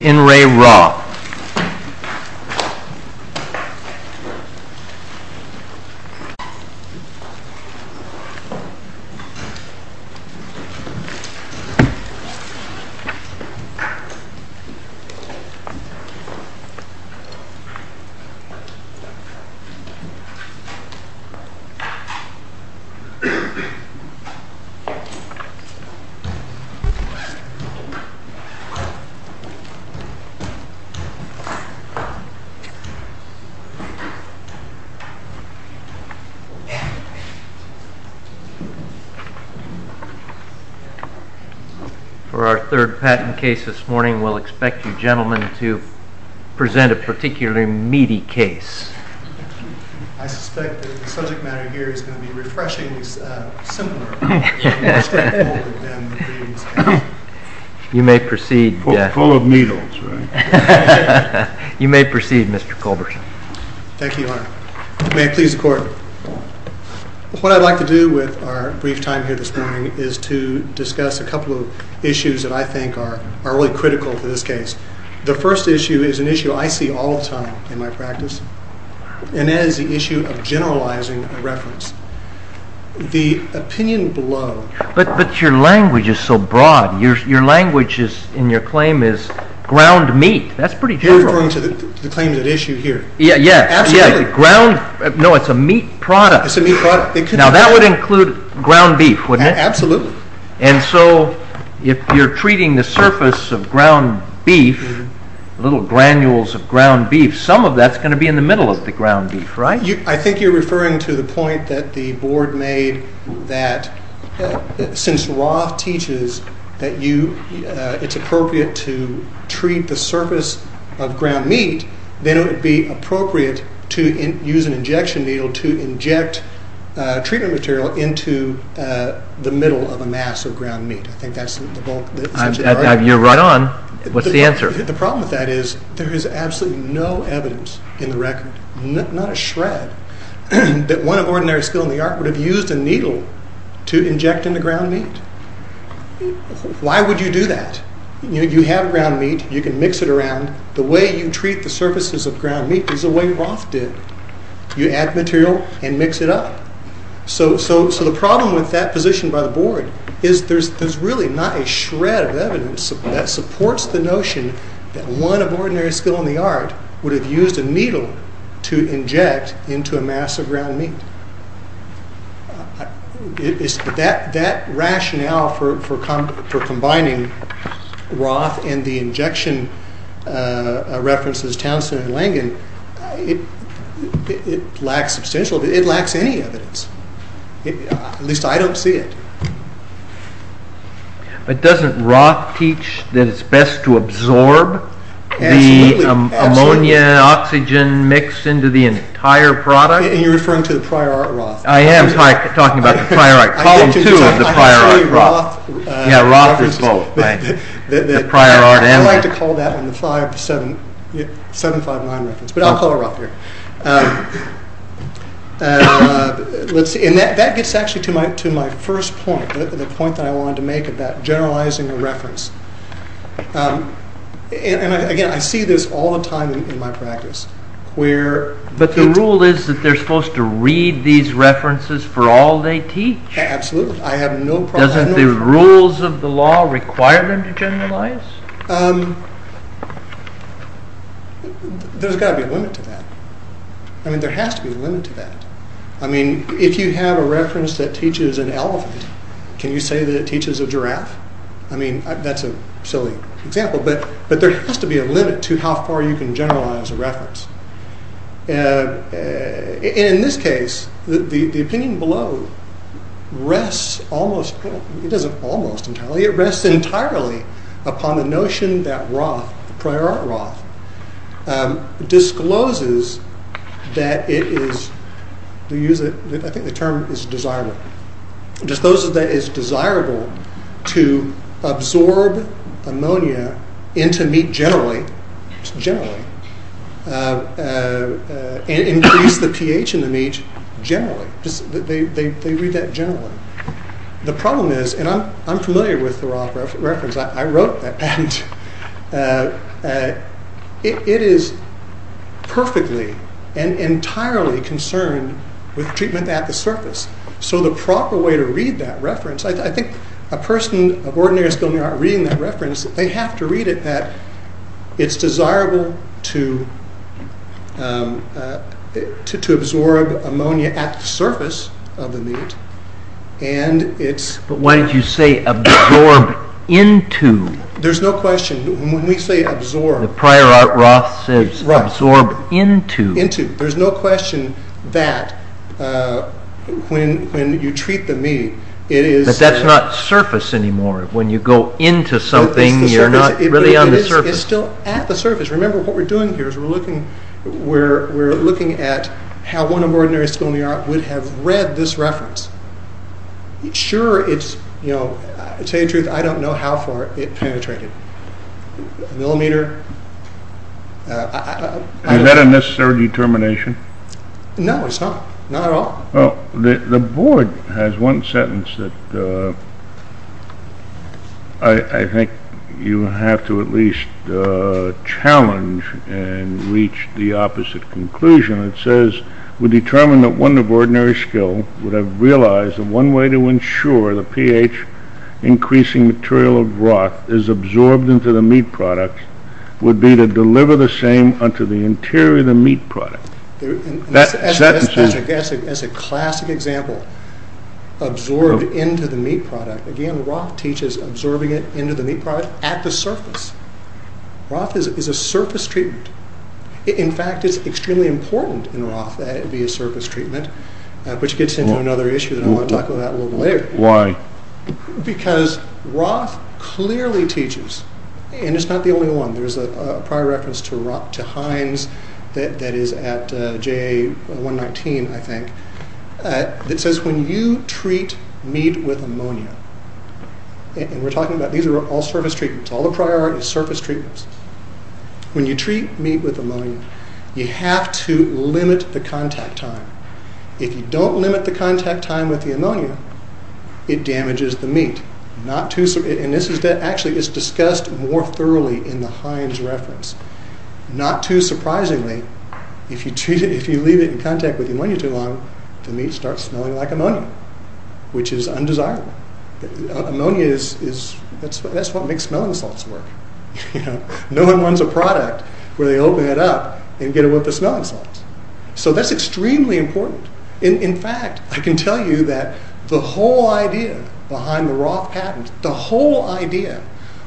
In Re Roth For our third patent case this morning, we'll expect you gentlemen to present a particularly meaty case. I suspect that the subject matter here is going to be refreshingly similar. You may proceed. Thank you, Your Honor. May it please the Court. What I'd like to do with our brief time here this morning is to discuss a couple of issues that I think are really critical to this case. The first issue is an issue I see all the time in my practice, and that is the issue of generalizing a reference. The opinion below... But your language is so broad. Your language in your claim is ground meat. That's pretty general. You're referring to the claim at issue here. Yeah, yeah. Absolutely. No, it's a meat product. It's a meat product. Now, that would include ground beef, wouldn't it? Absolutely. And so, if you're treating the surface of ground beef, little granules of ground beef, some of that's going to be in the middle of the ground beef, right? I think you're referring to the point that the Board made that since Roth teaches that it's appropriate to treat the surface of ground meat, then it would be appropriate to use an injection needle to inject treatment material into the middle of a mass of ground meat. I think that's the bulk. You're right on. What's the answer? The problem with that is there is absolutely no evidence in the record, not a shred, that one of ordinary skill in the art would have used a needle to inject into ground meat. Why would you do that? You have ground meat. You can mix it around. The way you treat the surfaces of ground meat is the way Roth did. You add material and mix it up. So the problem with that position by the Board is there's really not a shred of evidence that supports the notion that one of ordinary skill in the art would have used a needle to inject into a mass of ground meat. That rationale for combining Roth and the injection references Townsend and Langen, it lacks substantial evidence. It lacks any evidence. At least I don't see it. But doesn't Roth teach that it's best to absorb the ammonia-oxygen mix into the entire product? You're referring to the prior art Roth. I am talking about the prior art. Column 2 of the prior art Roth. Yeah, Roth is both. I like to call that one the 759 reference, but I'll call it Roth here. That gets actually to my first point, the point that I wanted to make about generalizing a reference. Again, I see this all the time in my practice. But the rule is that they're supposed to read these references for all they teach? Absolutely. Doesn't the rules of the law require them to generalize? There's got to be a limit to that. There has to be a limit to that. If you have a reference that teaches an elephant, can you say that it teaches a giraffe? That's a silly example, but there has to be a limit to how far you can generalize a reference. In this case, the opinion below rests almost entirely upon the notion that Roth, the prior art Roth, discloses that it is, I think the term is desirable, discloses that it is desirable to absorb ammonia into meat generally, generally, and increase the pH in the meat generally. They read that generally. The problem is, and I'm familiar with the Roth reference. I wrote that. It is perfectly and entirely concerned with treatment at the surface. So the proper way to read that reference, I think a person of ordinary skill in art reading that reference, they have to read it that it's desirable to absorb ammonia at the surface of the meat. But why did you say absorb into? There's no question. When we say absorb. The prior art Roth says absorb into. Into. There's no question that when you treat the meat, it is. But that's not surface anymore. When you go into something, you're not really on the surface. It's still at the surface. Remember, what we're doing here is we're looking at how one of ordinary skill in the art would have read this reference. Sure, it's, you know, to tell you the truth, I don't know how far it penetrated. A millimeter? Is that a necessary determination? No, it's not. Not at all. The board has one sentence that I think you have to at least challenge and reach the opposite conclusion. It says we determine that one of ordinary skill would have realized that one way to ensure the pH increasing material of Roth is absorbed into the meat product would be to deliver the same onto the interior of the meat product. That's a classic example. Absorbed into the meat product. Again, Roth teaches absorbing it into the meat product at the surface. Roth is a surface treatment. In fact, it's extremely important in Roth that it be a surface treatment, which gets into another issue that I want to talk about a little later. Why? Because Roth clearly teaches, and it's not the only one. There's a prior reference to Hines that is at JA 119, I think, that says when you treat meat with ammonia, and we're talking about these are all surface treatments, all the priority is surface treatments. When you treat meat with ammonia, you have to limit the contact time. If you don't limit the contact time with the ammonia, it damages the meat. Actually, it's discussed more thoroughly in the Hines reference. Not too surprisingly, if you leave it in contact with ammonia too long, the meat starts smelling like ammonia, which is undesirable. Ammonia, that's what makes smelling salts work. No one wants a product where they open it up and get a whiff of smelling salts. That's extremely important. In fact, I can tell you that the whole idea behind the Roth patent, the whole idea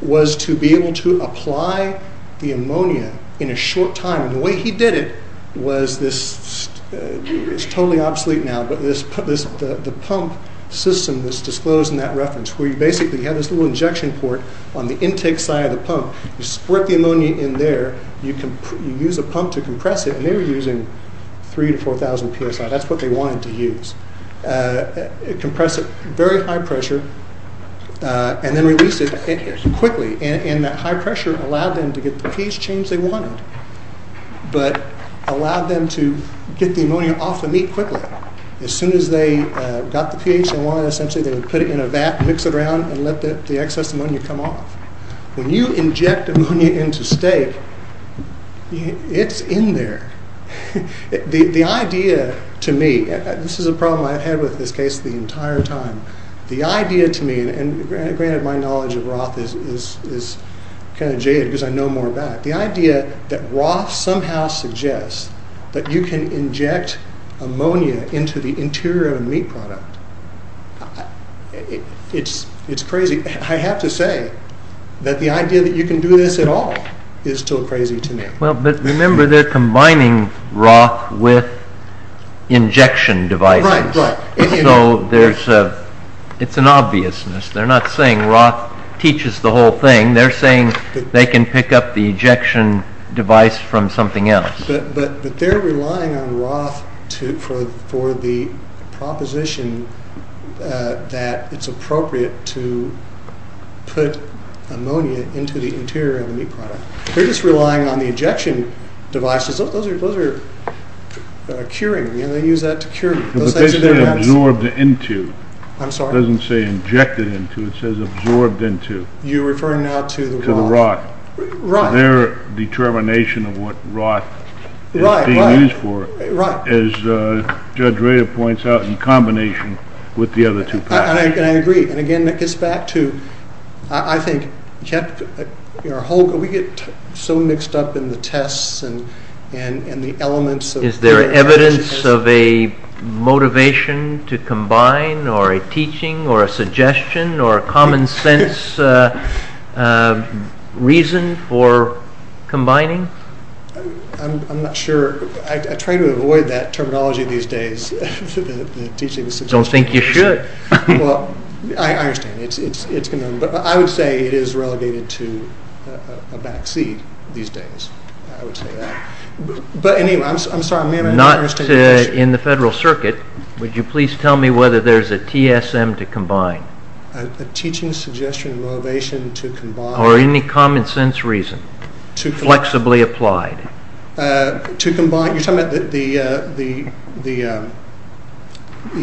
was to be able to apply the ammonia in a short time. The way he did it was this, it's totally obsolete now, but the pump system that's disclosed in that reference, where you basically have this little injection port on the intake side of the pump. You squirt the ammonia in there. You use a pump to compress it. They were using 3,000 to 4,000 psi. That's what they wanted to use. Compress it at very high pressure, and then release it quickly. That high pressure allowed them to get the pH change they wanted, but allowed them to get the ammonia off the meat quickly. As soon as they got the pH they wanted, they would put it in a vat, mix it around, and let the excess ammonia come off. When you inject ammonia into steak, it's in there. The idea to me, this is a problem I've had with this case the entire time. The idea to me, and granted my knowledge of Roth is kind of jaded because I know more about it. The idea that Roth somehow suggests that you can inject ammonia into the interior of a meat product, it's crazy. I have to say that the idea that you can do this at all is still crazy to me. Remember, they're combining Roth with injection devices. It's an obviousness. They're not saying Roth teaches the whole thing. They're saying they can pick up the injection device from something else. But they're relying on Roth for the proposition that it's appropriate to put ammonia into the interior of a meat product. They're just relying on the injection devices. Those are curing. They use that to cure. But they say absorbed into. I'm sorry? It doesn't say injected into. You're referring now to the Roth. To the Roth. Their determination of what Roth is being used for, as Judge Rader points out, in combination with the other two. I agree. Again, that gets back to, I think, we get so mixed up in the tests and the elements. Is there evidence of a motivation to combine or a teaching or a suggestion or a common sense reason? For combining? I'm not sure. I try to avoid that terminology these days. I don't think you should. I understand. I would say it is relegated to a back seat these days. I would say that. But anyway, I'm sorry. Not in the Federal Circuit. Would you please tell me whether there's a TSM to combine? A teaching suggestion or motivation to combine. Or any common sense reason. Flexibly applied. You're talking about the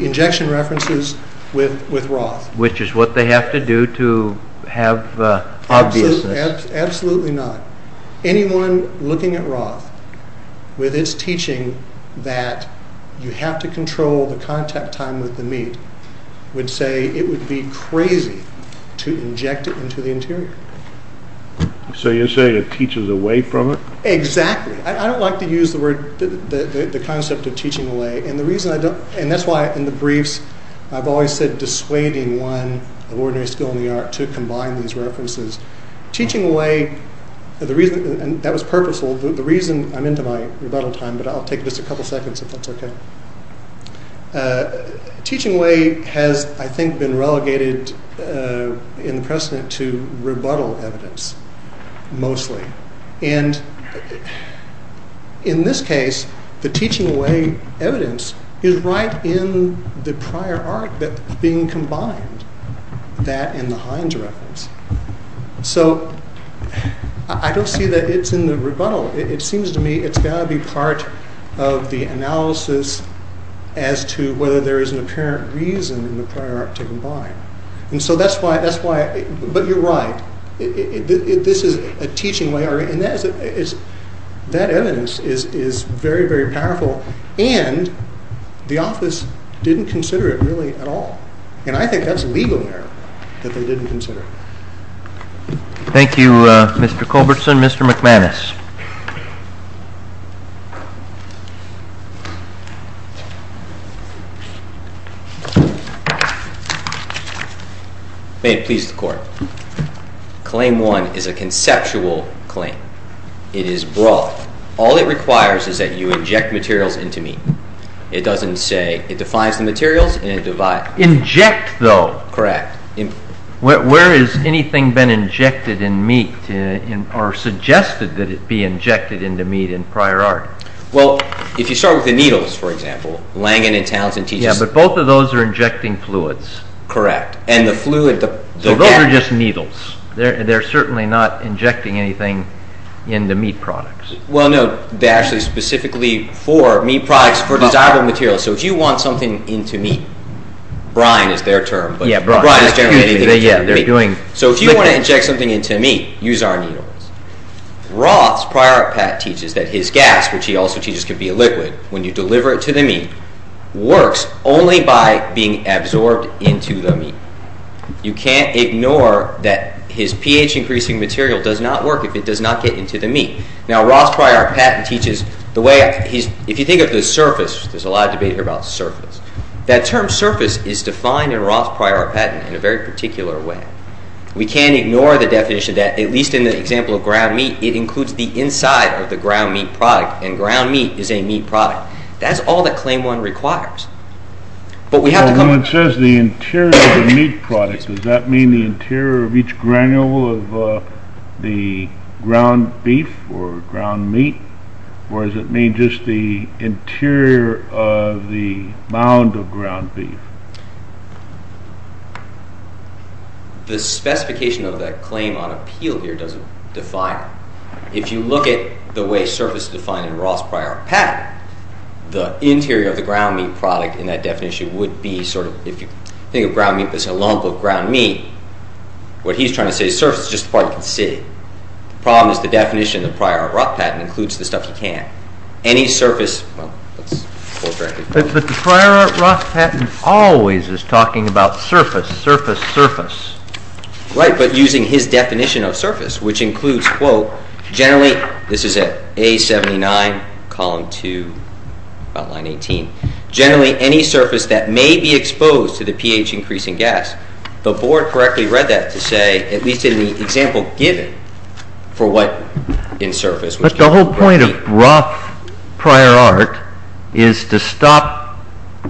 injection references with Roth. Which is what they have to do to have obviousness. Absolutely not. Anyone looking at Roth with its teaching that you have to control the contact time with the meat would say it would be crazy to inject it into the interior. So you're saying it teaches away from it? Exactly. I don't like to use the concept of teaching away. And that's why in the briefs I've always said dissuading one of ordinary skill in the art to combine these references. Teaching away, and that was purposeful. The reason I'm into my rebuttal time, but I'll take just a couple seconds if that's okay. Teaching away has, I think, been relegated in the precedent to rebuttal evidence. Mostly. And in this case, the teaching away evidence is right in the prior art being combined. That and the Heinz reference. So I don't see that it's in the rebuttal. It seems to me it's got to be part of the analysis as to whether there is an apparent reason in the prior art to combine. And so that's why, but you're right. This is a teaching way, and that evidence is very, very powerful. And the office didn't consider it really at all. And I think that's legal error that they didn't consider. Thank you, Mr. Culbertson. Mr. McManus. May it please the court. Claim one is a conceptual claim. It is broad. All it requires is that you inject materials into meat. It doesn't say, it defines the materials and it divides. Inject though. Correct. Where has anything been injected in meat or suggested that it be injected into meat in prior art? Well, if you start with the needles, for example, Langen and Townsend teaches. Yeah, but both of those are injecting fluids. Correct. So those are just needles. They're certainly not injecting anything into meat products. Well, no, they're actually specifically for meat products, for desirable materials. So if you want something into meat, brine is their term, but brine is generally anything that's in meat. So if you want to inject something into meat, use our needles. Roth's prior art pat teaches that his gas, which he also teaches can be a liquid, when you deliver it to the meat, works only by being absorbed into the meat. You can't ignore that his pH-increasing material does not work if it does not get into the meat. Now, Roth's prior art patent teaches the way he's – if you think of the surface, there's a lot of debate here about surface, that term surface is defined in Roth's prior art patent in a very particular way. We can't ignore the definition that, at least in the example of ground meat, it includes the inside of the ground meat product, and ground meat is a meat product. That's all that Claim 1 requires. But we have to come – Well, when it says the interior of the meat product, does that mean the interior of each granule of the ground beef or ground meat, or does it mean just the interior of the mound of ground beef? The specification of that claim on appeal here doesn't define it. If you look at the way surface is defined in Roth's prior art patent, the interior of the ground meat product in that definition would be sort of – if you think of ground meat, there's a long book, Ground Meat. What he's trying to say is surface is just the part you can see. The problem is the definition of the prior art Roth patent includes the stuff you can't. Any surface – well, let's – But the prior art Roth patent always is talking about surface, surface, surface. Right, but using his definition of surface, which includes, quote, generally – this is at A79, column 2, about line 18 – generally any surface that may be exposed to the pH increase in gas. The board correctly read that to say, at least in the example given, for what in surface – But the whole point of Roth prior art is to stop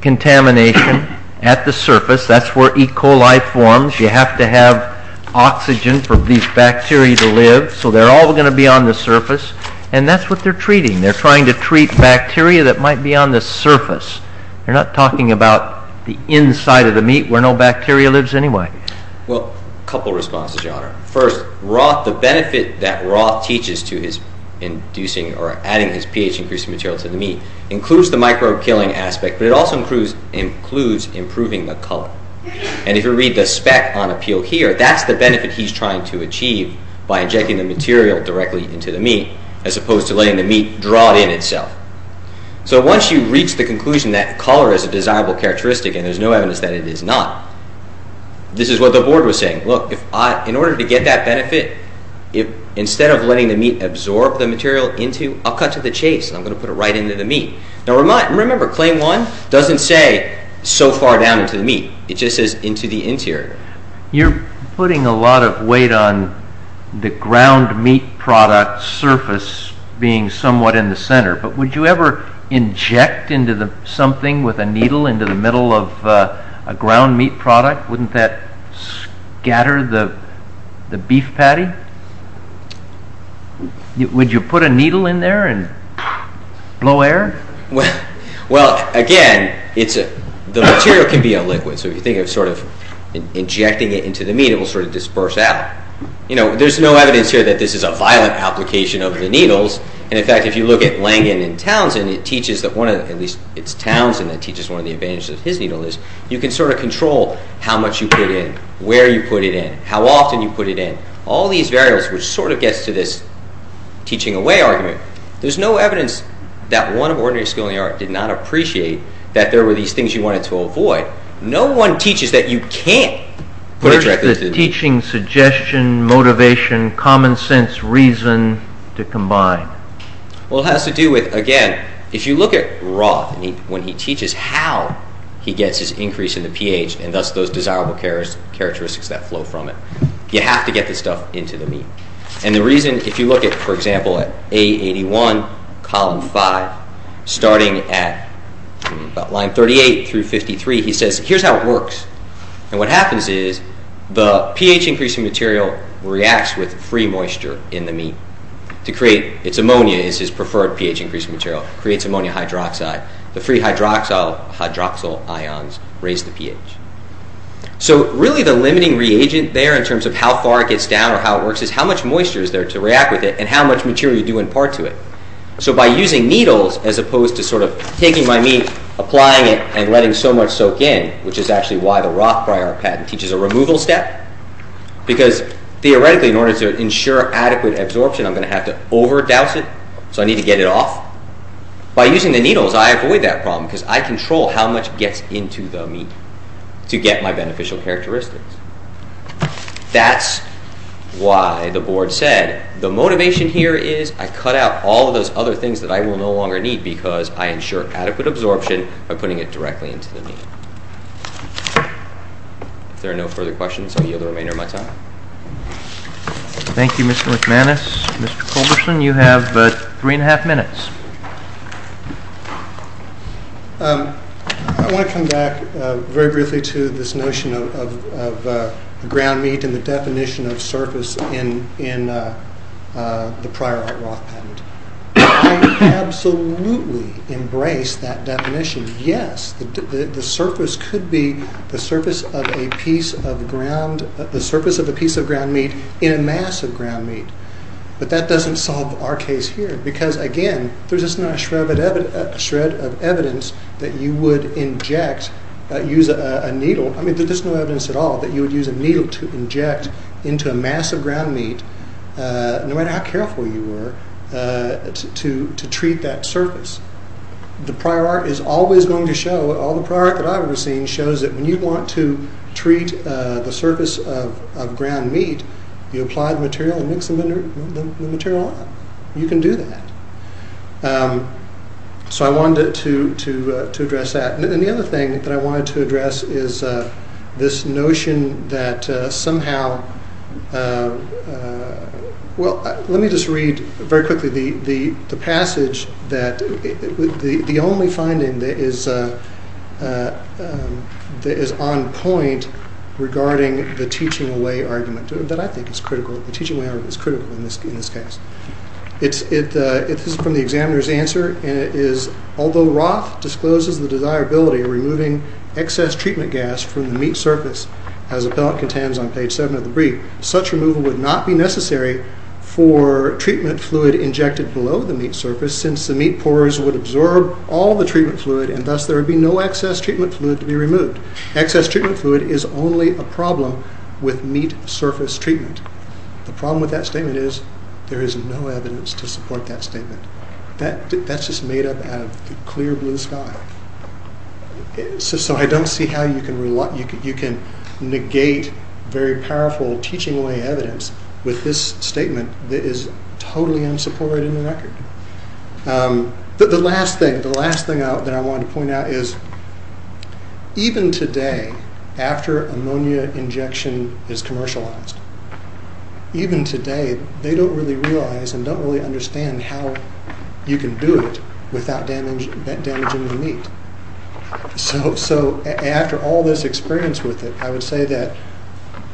contamination at the surface. That's where E. coli forms. You have to have oxygen for these bacteria to live, so they're all going to be on the surface. And that's what they're treating. They're trying to treat bacteria that might be on the surface. They're not talking about the inside of the meat where no bacteria lives anyway. Well, a couple of responses, Your Honor. First, the benefit that Roth teaches to his inducing or adding his pH-increasing material to the meat includes the microbe-killing aspect, but it also includes improving the color. And if you read the spec on appeal here, that's the benefit he's trying to achieve by injecting the material directly into the meat as opposed to letting the meat draw it in itself. So once you reach the conclusion that color is a desirable characteristic, and there's no evidence that it is not, this is what the board was saying. Look, in order to get that benefit, instead of letting the meat absorb the material into – I'll cut to the chase. I'm going to put it right into the meat. Now, remember, claim one doesn't say so far down into the meat. It just says into the interior. You're putting a lot of weight on the ground meat product surface being somewhat in the center, but would you ever inject into something with a needle into the middle of a ground meat product? Wouldn't that scatter the beef patty? Would you put a needle in there and blow air? Well, again, the material can be a liquid, so if you think of sort of injecting it into the meat, it will sort of disperse out. There's no evidence here that this is a violent application of the needles, and in fact, if you look at Langan and Townsend, it teaches that one of – at least it's Townsend that teaches one of the advantages of his needle is you can sort of control how much you put in, where you put it in, how often you put it in. All these variables which sort of gets to this teaching away argument. There's no evidence that one of ordinary schooling art did not appreciate that there were these things you wanted to avoid. No one teaches that you can't put it directly into – Where's the teaching suggestion, motivation, common sense, reason to combine? Well, it has to do with, again, if you look at Roth, when he teaches how he gets his increase in the pH and thus those desirable characteristics that flow from it. You have to get this stuff into the meat. And the reason, if you look at, for example, at A81, column 5, starting at about line 38 through 53, he says, here's how it works. And what happens is the pH increasing material reacts with free moisture in the meat to create – it's ammonia, it's his preferred pH increasing material, creates ammonia hydroxide. The free hydroxyl ions raise the pH. So really the limiting reagent there in terms of how far it gets down or how it works is how much moisture is there to react with it and how much material you do impart to it. So by using needles as opposed to sort of taking my meat, applying it, and letting so much soak in, which is actually why the Roth-Briar patent teaches a removal step, because theoretically in order to ensure adequate absorption, I'm going to have to over-douse it, so I need to get it off. By using the needles, I avoid that problem because I control how much gets into the meat to get my beneficial characteristics. That's why the board said the motivation here is I cut out all of those other things that I will no longer need because I ensure adequate absorption by putting it directly into the meat. If there are no further questions, I'll yield the remainder of my time. Thank you, Mr. McManus. Mr. Colbertson, you have three and a half minutes. I want to come back very briefly to this notion of ground meat and the definition of surface in the prior Roth patent. I absolutely embrace that definition. Yes, the surface could be the surface of a piece of ground meat in a mass of ground meat, but that doesn't solve our case here because, again, there's just not a shred of evidence that you would use a needle to inject into a mass of ground meat, no matter how careful you were to treat that surface. The prior art is always going to show, all the prior art that I've ever seen, shows that when you want to treat the surface of ground meat, you apply the material and mix the material up. You can do that. So I wanted to address that. And the other thing that I wanted to address is this notion that somehow... Well, let me just read very quickly the passage that... The only finding that is on point regarding the teaching away argument, that I think is critical, the teaching away argument is critical in this case. It is from the examiner's answer, and it is, although Roth discloses the desirability of removing excess treatment gas from the meat surface as Appellant contends on page 7 of the brief, such removal would not be necessary for treatment fluid injected below the meat surface since the meat pourers would absorb all the treatment fluid and thus there would be no excess treatment fluid to be removed. Excess treatment fluid is only a problem with meat surface treatment. The problem with that statement is there is no evidence to support that statement. That's just made up out of clear blue sky. So I don't see how you can negate very powerful teaching away evidence with this statement that is totally unsupported in the record. The last thing that I wanted to point out is even today, after ammonia injection is commercialized, even today they don't really realize and don't really understand how you can do it without damaging the meat. So after all this experience with it, I would say that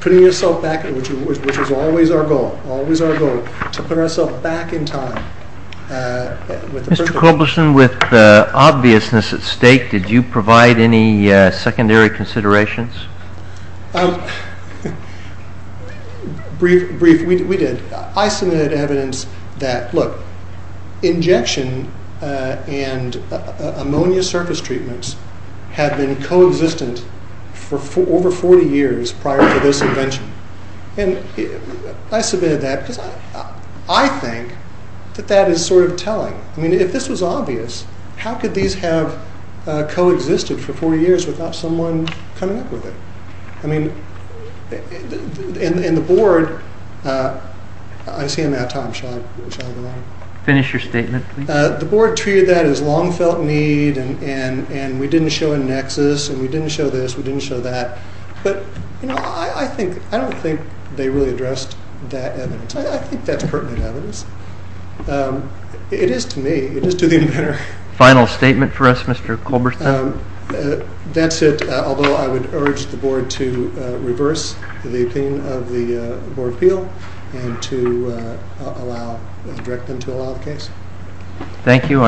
putting yourself back, which is always our goal, to put ourselves back in time. Mr. Kobleson, with the obviousness at stake, did you provide any secondary considerations? Briefly, we did. I submitted evidence that injection and ammonia surface treatments had been co-existent for over 40 years prior to this invention. I submitted that because I think that that is sort of telling. If this was obvious, how could these have co-existed for 40 years without someone coming up with it? And the board, I see I'm out of time, shall I go on? Finish your statement, please. The board treated that as long-felt need and we didn't show a nexus and we didn't show this, we didn't show that, but I don't think they really addressed that evidence. I think that's pertinent evidence. It is to me. It is to the inventor. Final statement for us, Mr. Kobleson? That's it. Although I would urge the board to reverse the opinion of the board appeal and to direct them to allow the case. Thank you.